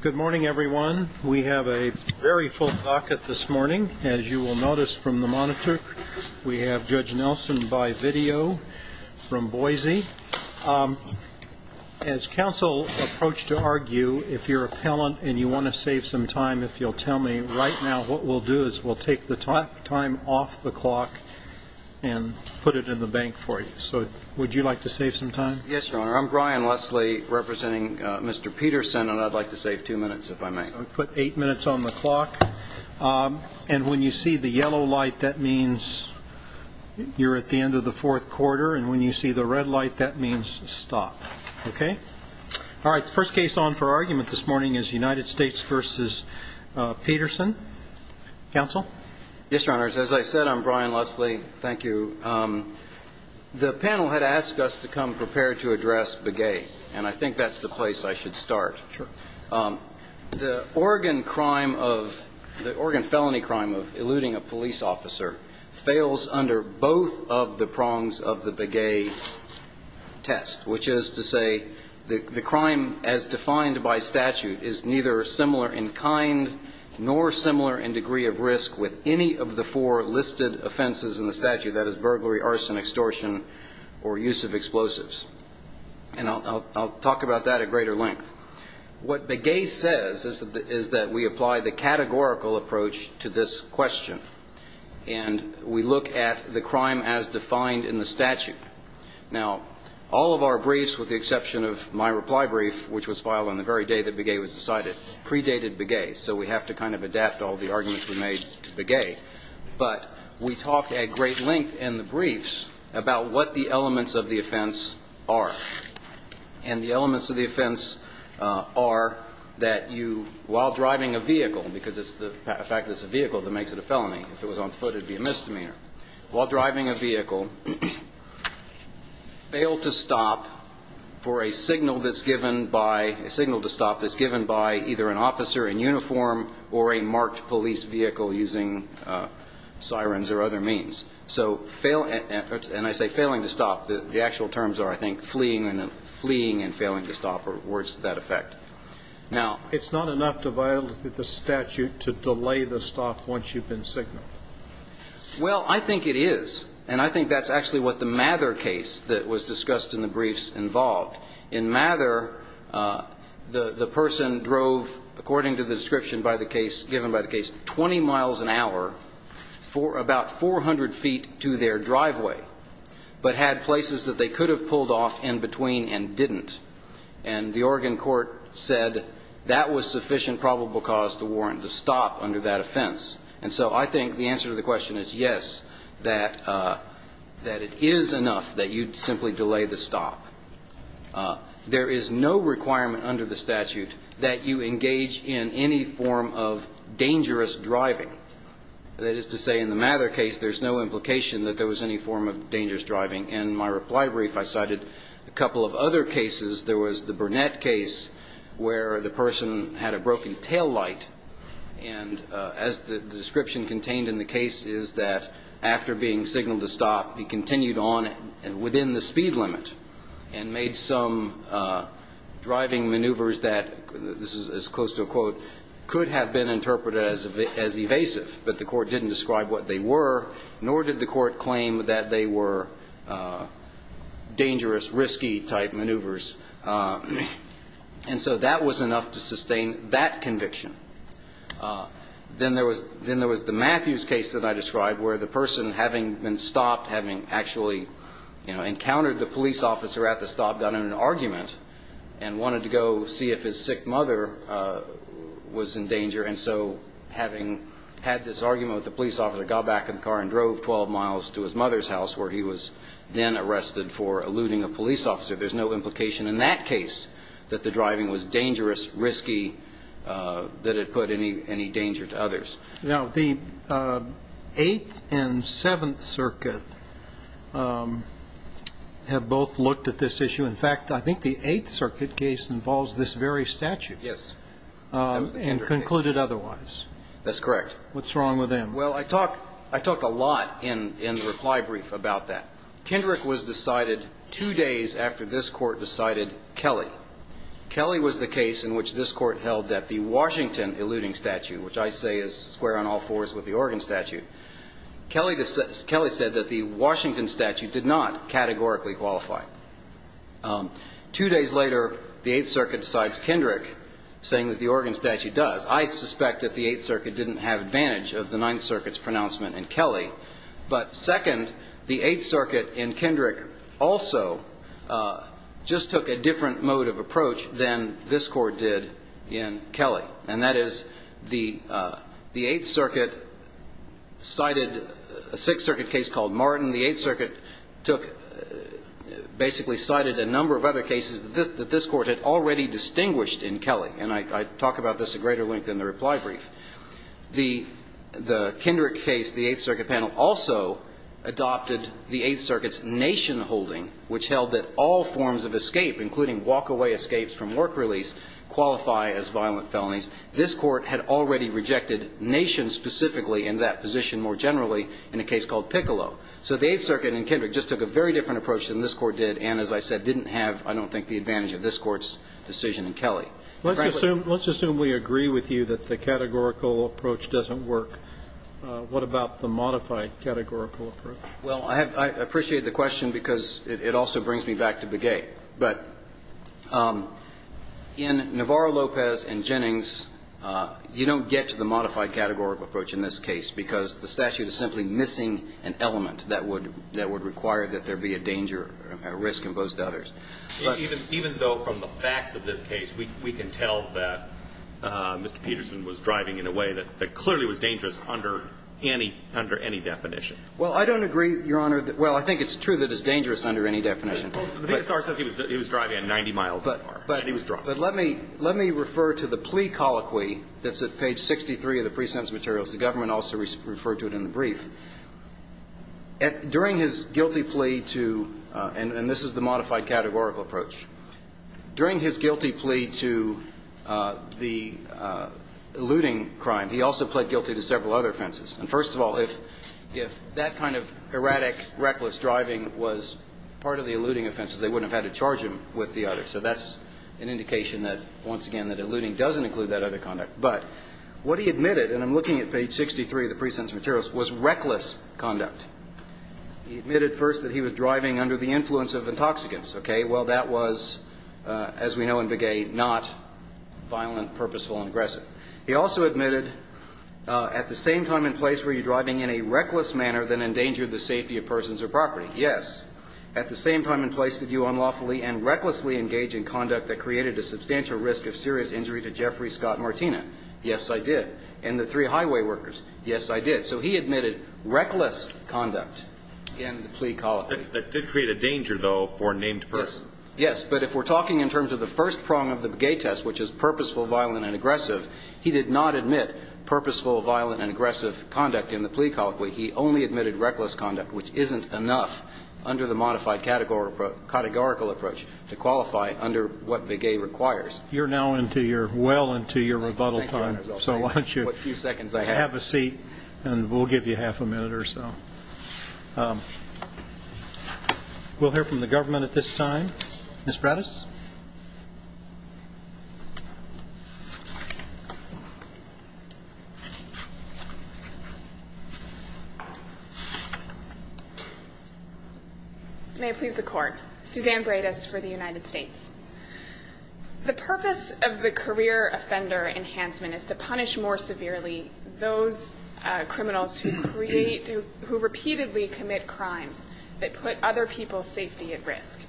Good morning, everyone. We have a very full pocket this morning. As you will notice from the monitor, we have Judge Nelson by video from Boise. As counsel approach to argue, if you're appellant and you want to save some time, if you'll tell me right now what we'll do is we'll take the time off the clock and put it in the bank for you. So would you like to save some time? Yes, Your Honor. I'm Brian Leslie, representing Mr. Peterson, and I'd like to save two minutes, if I may. Put eight minutes on the clock. And when you see the yellow light, that means you're at the end of the fourth quarter. And when you see the red light, that means stop. OK? All right. First case on for argument this morning is United States v. Peterson. Counsel? Yes, Your Honors. As I said, I'm Brian Leslie. Thank you. The panel had asked us to come prepare to address Begay, and I think that's the place I should start. Sure. The Oregon crime of – the Oregon felony crime of eluding a police officer fails under both of the prongs of the Begay test, which is to say the crime as defined by statute is neither similar in kind nor similar in degree of risk with any of the four listed offenses in the statute. That is burglary, arson, extortion, or use of explosives. And I'll talk about that at greater length. What Begay says is that we apply the categorical approach to this question, and we look at the crime as defined in the statute. Now, all of our briefs, with the exception of my reply brief, which was filed on the very day that Begay was decided, predated Begay. So we have to kind of adapt all the arguments we made to Begay. But we talked at great length in the briefs about what the elements of the offense are. And the elements of the offense are that you, while driving a vehicle – because it's the fact that it's a vehicle that makes it a felony. If it was on foot, it would be a misdemeanor. While driving a vehicle, fail to stop for a signal that's given by – a signal to stop that's given by either an officer in uniform or a marked police vehicle using sirens or other means. So fail – and I say failing to stop. The actual terms are, I think, fleeing and failing to stop, or words to that effect. Now – It's not enough to violate the statute to delay the stop once you've been signaled. Well, I think it is. And I think that's actually what the Mather case that was discussed in the briefs involved. In Mather, the person drove, according to the description by the case – given by the case, 20 miles an hour for about 400 feet to their driveway, but had places that they could have pulled off in between and didn't. And the Oregon court said that was sufficient probable cause to warrant the stop under that offense. And so I think the answer to the question is yes, that – that it is enough that you'd simply delay the stop. There is no requirement under the statute that you engage in any form of dangerous driving. That is to say, in the Mather case, there's no implication that there was any form of dangerous driving. In my reply brief, I cited a couple of other cases. There was the Burnett case where the person had a broken taillight, and as the description contained in the case is that after being signaled to stop, he continued on within the speed limit and made some driving maneuvers that – this is as close to a quote – could have been interpreted as evasive. But the court didn't describe what they were, nor did the court claim that they were dangerous, risky-type maneuvers. And so that was enough to sustain that conviction. Then there was – then there was the Matthews case that I described where the person, having been stopped, having actually, you know, encountered the police officer at the stop, done an argument, and wanted to go see if his sick mother was in danger. And so having had this argument with the police officer, got back in the car and drove 12 miles to his mother's house where he was then arrested for eluding a police officer. There's no implication in that case that the driving was dangerous, risky, that it put any danger to others. Now, the Eighth and Seventh Circuit have both looked at this issue. In fact, I think the Eighth Circuit case involves this very statute. Yes. And concluded otherwise. That's correct. What's wrong with them? Well, I talked – I talked a lot in the reply brief about that. Kendrick was decided two days after this Court decided Kelly. Kelly was the case in which this Court held that the Washington eluding statute, which I say is square on all fours with the Oregon statute, Kelly said that the Washington statute did not categorically qualify. Two days later, the Eighth Circuit decides Kendrick saying that the Oregon statute does. I suspect that the Eighth Circuit didn't have advantage of the Ninth Circuit's pronouncement in Kelly. But second, the Eighth Circuit in Kendrick also just took a different mode of approach than this Court did in Kelly. And that is the Eighth Circuit cited a Sixth Circuit case called Martin. The Eighth Circuit took – basically cited a number of other cases that this Court had already distinguished in Kelly. And I talk about this at greater length in the reply brief. The Kendrick case, the Eighth Circuit panel also adopted the Eighth Circuit's Nation holding, which held that all forms of escape, including walk-away escapes from work release, qualify as violent felonies. This Court had already rejected Nation specifically in that position more generally in a case called Piccolo. So the Eighth Circuit in Kendrick just took a very different approach than this Court did, and, as I said, didn't have, I don't think, the advantage of this Court's decision in Kelly. And frankly the Ninth Circuit did. Scalia. Let's assume we agree with you that the categorical approach doesn't work. What about the modified categorical approach? Phillips. Well, I appreciate the question because it also brings me back to Begay. But in Navarro-Lopez and Jennings, you don't get to the modified categorical approach in this case because the statute is simply missing an element that would require that there be a danger, a risk in most others. Even though from the facts of this case we can tell that Mr. Peterson was driving in a way that clearly was dangerous under any definition. Well, I don't agree, Your Honor. Well, I think it's true that it's dangerous under any definition. The PSR says he was driving at 90 miles an hour and he was driving. But let me refer to the plea colloquy that's at page 63 of the present materials. The government also referred to it in the brief. During his guilty plea to, and this is the modified categorical approach, during his guilty plea to the eluding crime, he also pled guilty to several other offenses. And first of all, if that kind of erratic, reckless driving was part of the eluding offenses, they wouldn't have had to charge him with the other. So that's an indication that, once again, that eluding doesn't include that other conduct. But what he admitted, and I'm looking at page 63 of the present materials, was reckless conduct. He admitted first that he was driving under the influence of intoxicants. Okay. Well, that was, as we know in Begay, not violent, purposeful, and aggressive. He also admitted at the same time and place were you driving in a reckless manner that endangered the safety of persons or property. Yes. At the same time and place did you unlawfully and recklessly engage in conduct that created a substantial risk of serious injury to Jeffrey Scott Martina? Yes, I did. And the three highway workers? Yes, I did. So he admitted reckless conduct in the plea colloquy. That did create a danger, though, for a named person. Yes. But if we're talking in terms of the first prong of the Begay test, which is purposeful, violent, and aggressive, he did not admit purposeful, violent, and aggressive conduct in the plea colloquy. He only admitted reckless conduct, which isn't enough under the modified categorical approach to qualify under what Begay requires. You're now well into your rebuttal time. Thank you, Your Honor. So why don't you have a seat and we'll give you half a minute or so. We'll hear from the government at this time. May it please the Court. Suzanne Bredas for the United States. The purpose of the career offender enhancement is to punish more severely those criminals who create, who repeatedly commit crimes that put other people's safety at risk.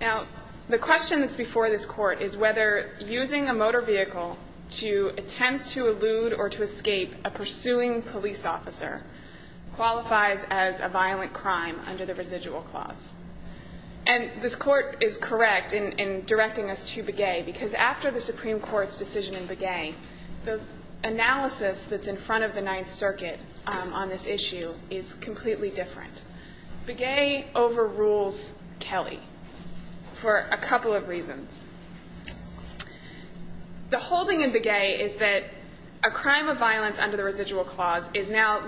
Now, the question that's before this Court is whether using a motor vehicle to attempt to elude or to escape a pursuing police officer qualifies as a violent crime under the residual clause. And this Court is correct in directing us to Begay, because after the Supreme Court's decision in Begay, the analysis that's in front of the Ninth Circuit on this issue is completely different. Begay overrules Kelly for a couple of reasons. The holding in Begay is that a crime of violence under the residual clause is now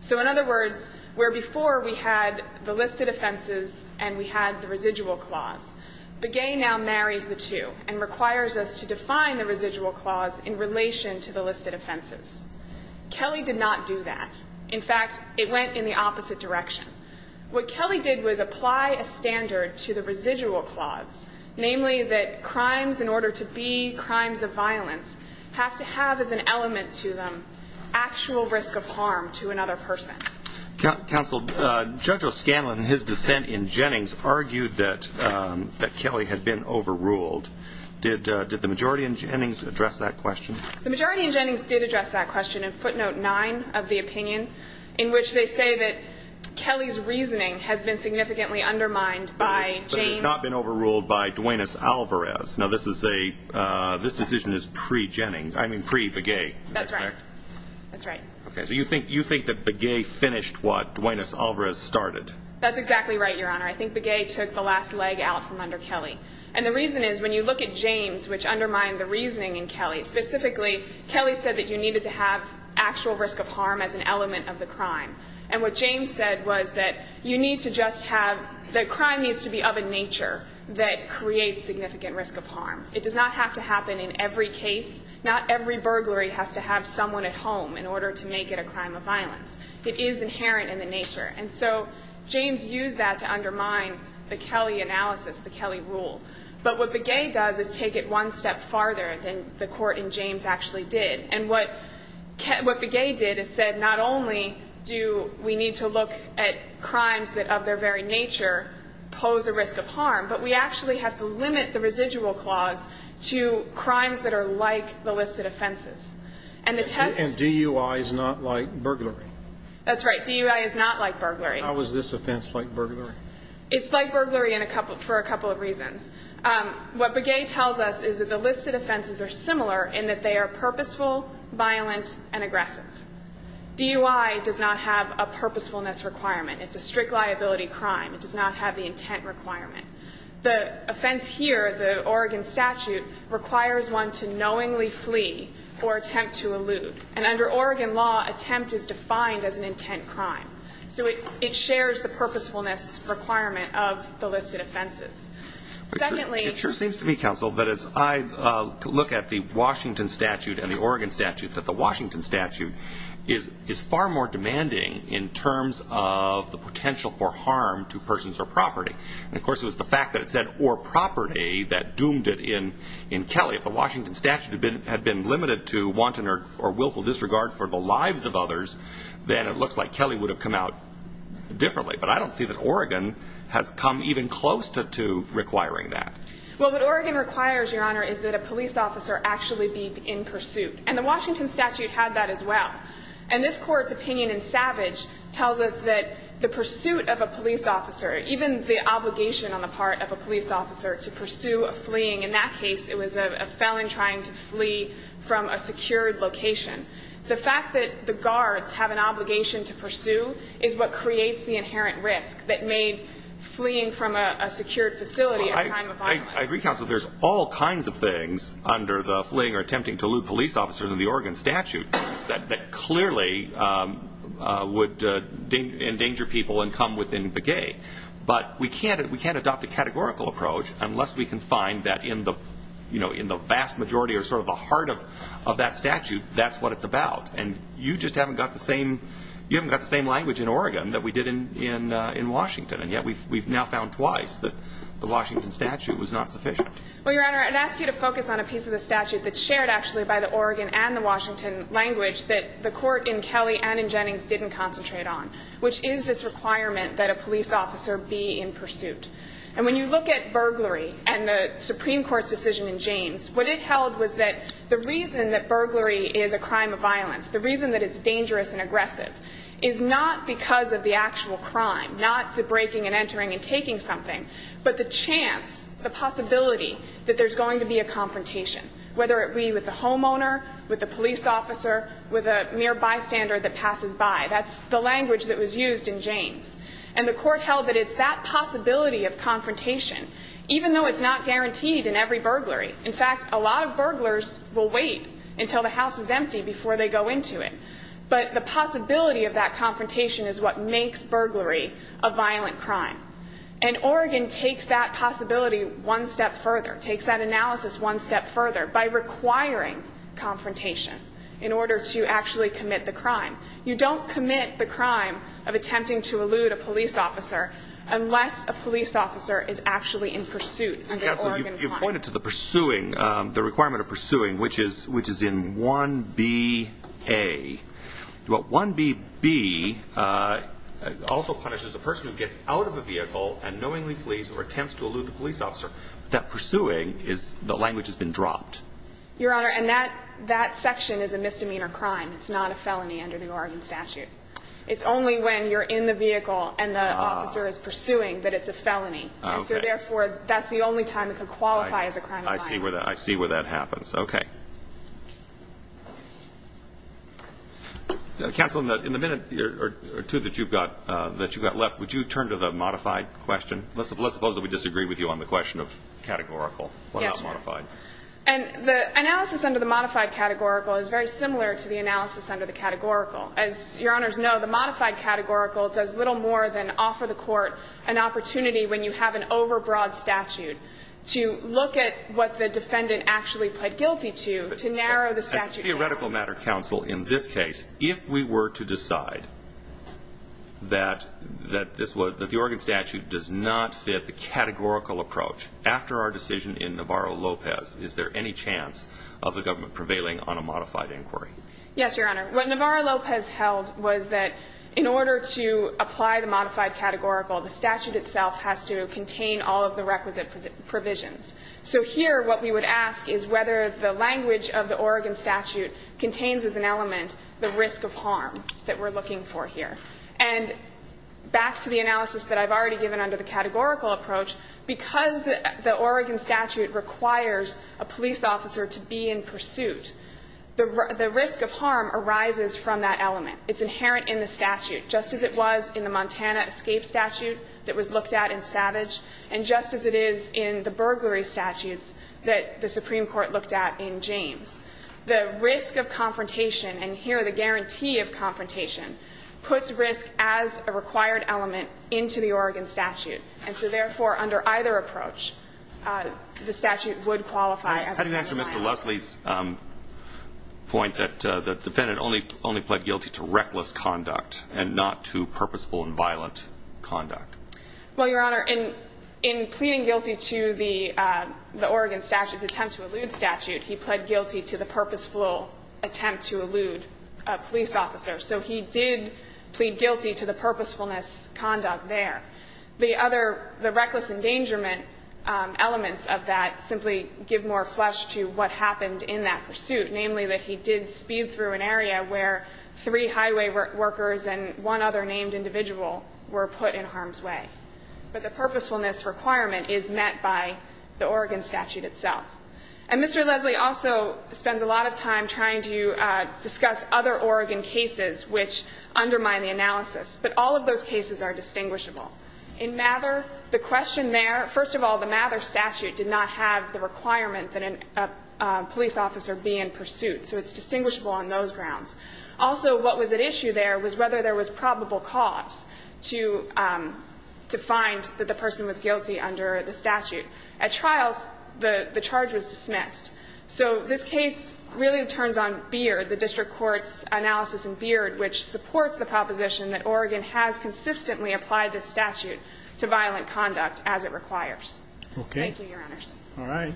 So in other words, where before we had the listed offenses and we had the residual clause, Begay now marries the two and requires us to define the residual clause in relation to the listed offenses. Kelly did not do that. In fact, it went in the opposite direction. What Kelly did was apply a standard to the residual clause, namely that crimes in order to be crimes of violence have to have as an element to them actual risk of harm to another person. Counsel, Judge O'Scanlan in his dissent in Jennings argued that Kelly had been overruled. Did the majority in Jennings address that question? The majority in Jennings did address that question in footnote 9 of the opinion, in which they say that Kelly's reasoning has been significantly undermined by James But it had not been overruled by Duaneis Alvarez. Now, this decision is pre-Jennings, I mean pre-Begay. That's right. That's right. Okay. So you think that Begay finished what Duaneis Alvarez started? That's exactly right, Your Honor. I think Begay took the last leg out from under Kelly. And the reason is when you look at James, which undermined the reasoning in Kelly, specifically Kelly said that you needed to have actual risk of harm as an element of the crime. And what James said was that you need to just have the crime needs to be of a nature that creates significant risk of harm. It does not have to happen in every case. Not every burglary has to have someone at home in order to make it a crime of violence. It is inherent in the nature. And so James used that to undermine the Kelly analysis, the Kelly rule. But what Begay does is take it one step farther than the court in James actually did. And what Begay did is said not only do we need to look at crimes that of their very nature pose a risk of harm, but we actually have to limit the residual clause to crimes that are like the listed offenses. And the test of the... And DUI is not like burglary. That's right. DUI is not like burglary. How is this offense like burglary? It's like burglary for a couple of reasons. What Begay tells us is that the listed offenses are similar in that they are purposeful, violent, and aggressive. DUI does not have a purposefulness requirement. It's a strict liability crime. It does not have the intent requirement. The offense here, the Oregon statute, requires one to knowingly flee or attempt to elude. And under Oregon law, attempt is defined as an intent crime. So it shares the purposefulness requirement of the listed offenses. Secondly... It sure seems to me, counsel, that as I look at the Washington statute and the Oregon statute, that the Washington statute is far more demanding in terms of the potential for harm to persons or property. And, of course, it was the fact that it said, or property, that doomed it in Kelly. If the Washington statute had been limited to wanton or willful disregard for the lives of others, then it looks like Kelly would have come out differently. But I don't see that Oregon has come even close to requiring that. Well, what Oregon requires, Your Honor, is that a police officer actually be in pursuit. And the Washington statute had that as well. And this Court's opinion in Savage tells us that the pursuit of a police officer, even the obligation on the part of a police officer to pursue a fleeing. In that case, it was a felon trying to flee from a secured location. The fact that the guards have an obligation to pursue is what creates the inherent risk that made fleeing from a secured facility a crime of violence. Well, I agree, counsel. There's all kinds of things under the fleeing or attempting to elude police officer than the Oregon statute that clearly would endanger people and come within the gay. But we can't adopt a categorical approach unless we can find that in the vast majority or sort of the heart of that statute, that's what it's about. And you just haven't got the same language in Oregon that we did in Washington. And yet we've now found twice that the Washington statute was not sufficient. Well, Your Honor, I'd ask you to focus on a piece of the statute that's shared actually by the Oregon and the Washington language that the Court in Kelly and in Jennings didn't concentrate on, which is this requirement that a police officer be in pursuit. And when you look at burglary and the Supreme Court's decision in James, what it held was that the reason that burglary is a crime of violence, the reason that it's dangerous and aggressive, is not because of the actual crime, not the breaking and entering and taking something, but the chance, the possibility that there's going to be a confrontation, whether it be with a homeowner, with a police officer, with a mere bystander that passes by. That's the language that was used in James. And the Court held that it's that possibility of confrontation, even though it's not guaranteed in every burglary. In fact, a lot of burglars will wait until the house is empty before they go into it. But the possibility of that confrontation is what makes burglary a violent crime. And Oregon takes that possibility one step further, takes that analysis one step further, by requiring confrontation in order to actually commit the crime. You don't commit the crime of attempting to elude a police officer unless a police officer is actually in pursuit. You've pointed to the pursuing, the requirement of pursuing, which is in 1bA. Well, 1bB also punishes a person who gets out of a vehicle and knowingly flees or attempts to elude the police officer. That pursuing, the language has been dropped. Your Honor, and that section is a misdemeanor crime. It's not a felony under the Oregon statute. It's only when you're in the vehicle and the officer is pursuing that it's a felony. So therefore, that's the only time it could qualify as a crime of violence. I see where that happens. Okay. Counsel, in the minute or two that you've got left, would you turn to the modified question? Let's suppose that we disagree with you on the question of categorical. Yes, Your Honor. Why not modified? And the analysis under the modified categorical is very similar to the analysis under the categorical. As Your Honors know, the modified categorical does little more than offer the court an opportunity when you have an overbroad statute In theoretical matter, Counsel, in this case, if we were to decide that the Oregon statute does not fit the categorical approach, after our decision in Navarro-Lopez, is there any chance of the government prevailing on a modified inquiry? Yes, Your Honor. What Navarro-Lopez held was that in order to apply the modified categorical, the statute itself has to contain all of the requisite provisions. So here what we would ask is whether the language of the Oregon statute contains as an element the risk of harm that we're looking for here. And back to the analysis that I've already given under the categorical approach, because the Oregon statute requires a police officer to be in pursuit, the risk of harm arises from that element. It's inherent in the statute, just as it was in the Montana escape statute that was looked at in Savage, and just as it is in the burglary statutes that the Supreme Court looked at in James. The risk of confrontation, and here the guarantee of confrontation, puts risk as a required element into the Oregon statute. And so, therefore, under either approach, the statute would qualify as a modified I'm heading back to Mr. Leslie's point that the defendant only pled guilty to reckless conduct and not to purposeful and violent conduct. Well, Your Honor, in pleading guilty to the Oregon statute, the attempt to elude statute, he pled guilty to the purposeful attempt to elude a police officer. So he did plead guilty to the purposefulness conduct there. The other, the reckless endangerment elements of that simply give more flesh to what happened in that pursuit, namely that he did speed through an area where three But the purposefulness requirement is met by the Oregon statute itself. And Mr. Leslie also spends a lot of time trying to discuss other Oregon cases which undermine the analysis. But all of those cases are distinguishable. In Mather, the question there, first of all, the Mather statute did not have the requirement that a police officer be in pursuit. So it's distinguishable on those grounds. Also, what was at issue there was whether there was probable cause to find that the person was guilty under the statute. At trial, the charge was dismissed. So this case really turns on Beard, the district court's analysis in Beard, which supports the proposition that Oregon has consistently applied the statute to violent conduct as it requires. Thank you, Your Honors. All right.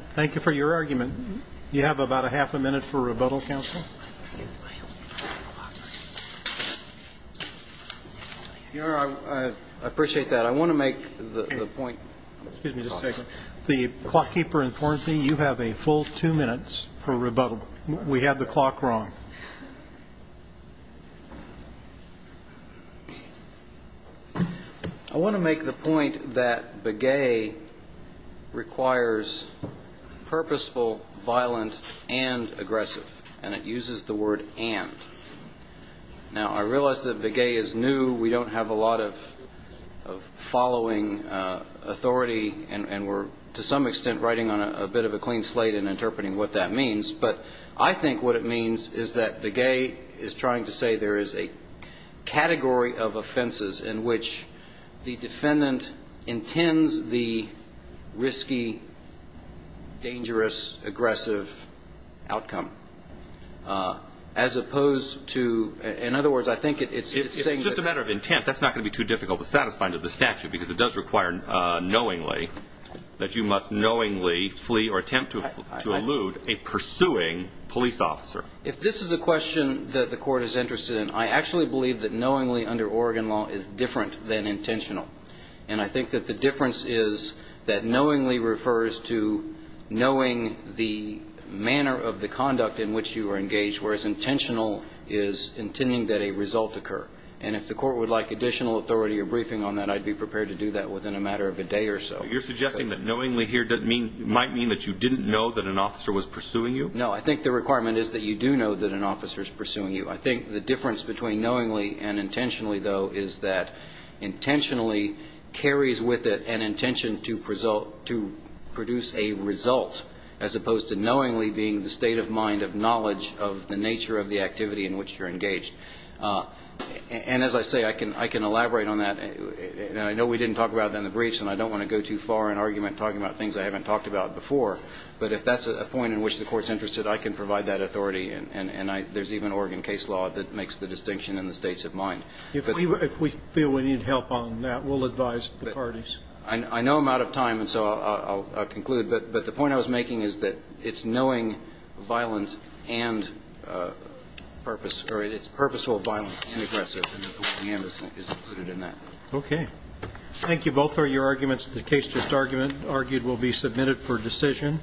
You have about a half a minute for rebuttal, counsel. Your Honor, I appreciate that. I want to make the point. Excuse me. Just a second. The clockkeeper informed me you have a full two minutes for rebuttal. We have the clock wrong. I want to make the point that Begay requires purposeful, violent, and aggressive. And it uses the word and. Now, I realize that Begay is new. We don't have a lot of following authority. And we're, to some extent, writing on a bit of a clean slate and interpreting what that means. But I think what it means is that Begay is trying to say there is a category of offenses in which the defendant intends the risky, dangerous, aggressive outcome. As opposed to, in other words, I think it's saying that. It's just a matter of intent. That's not going to be too difficult to satisfy under the statute because it does require knowingly that you must knowingly flee or attempt to elude a pursuing police officer. If this is a question that the Court is interested in, I actually believe that knowingly under Oregon law is different than intentional. And I think that the difference is that knowingly refers to knowing the manner of the conduct in which you are engaged, whereas intentional is intending that a result occur. And if the Court would like additional authority or briefing on that, I'd be prepared to do that within a matter of a day or so. You're suggesting that knowingly here might mean that you didn't know that an officer was pursuing you? No. I think the requirement is that you do know that an officer is pursuing you. I think the difference between knowingly and intentionally, though, is that intentionally carries with it an intention to produce a result as opposed to knowingly being the state of mind of knowledge of the nature of the activity in which you're engaged. And as I say, I can elaborate on that. I know we didn't talk about that in the briefs, and I don't want to go too far in argument talking about things I haven't talked about before. But if that's a point in which the Court's interested, I can provide that authority and there's even Oregon case law that makes the distinction in the states of mind. If we feel we need help on that, we'll advise the parties. I know I'm out of time, and so I'll conclude. But the point I was making is that it's knowing violent and purpose, or it's purposeful violent and aggressive, and that the word we have is included in that. Okay. Thank you both for your arguments. The case just argued will be submitted for decision.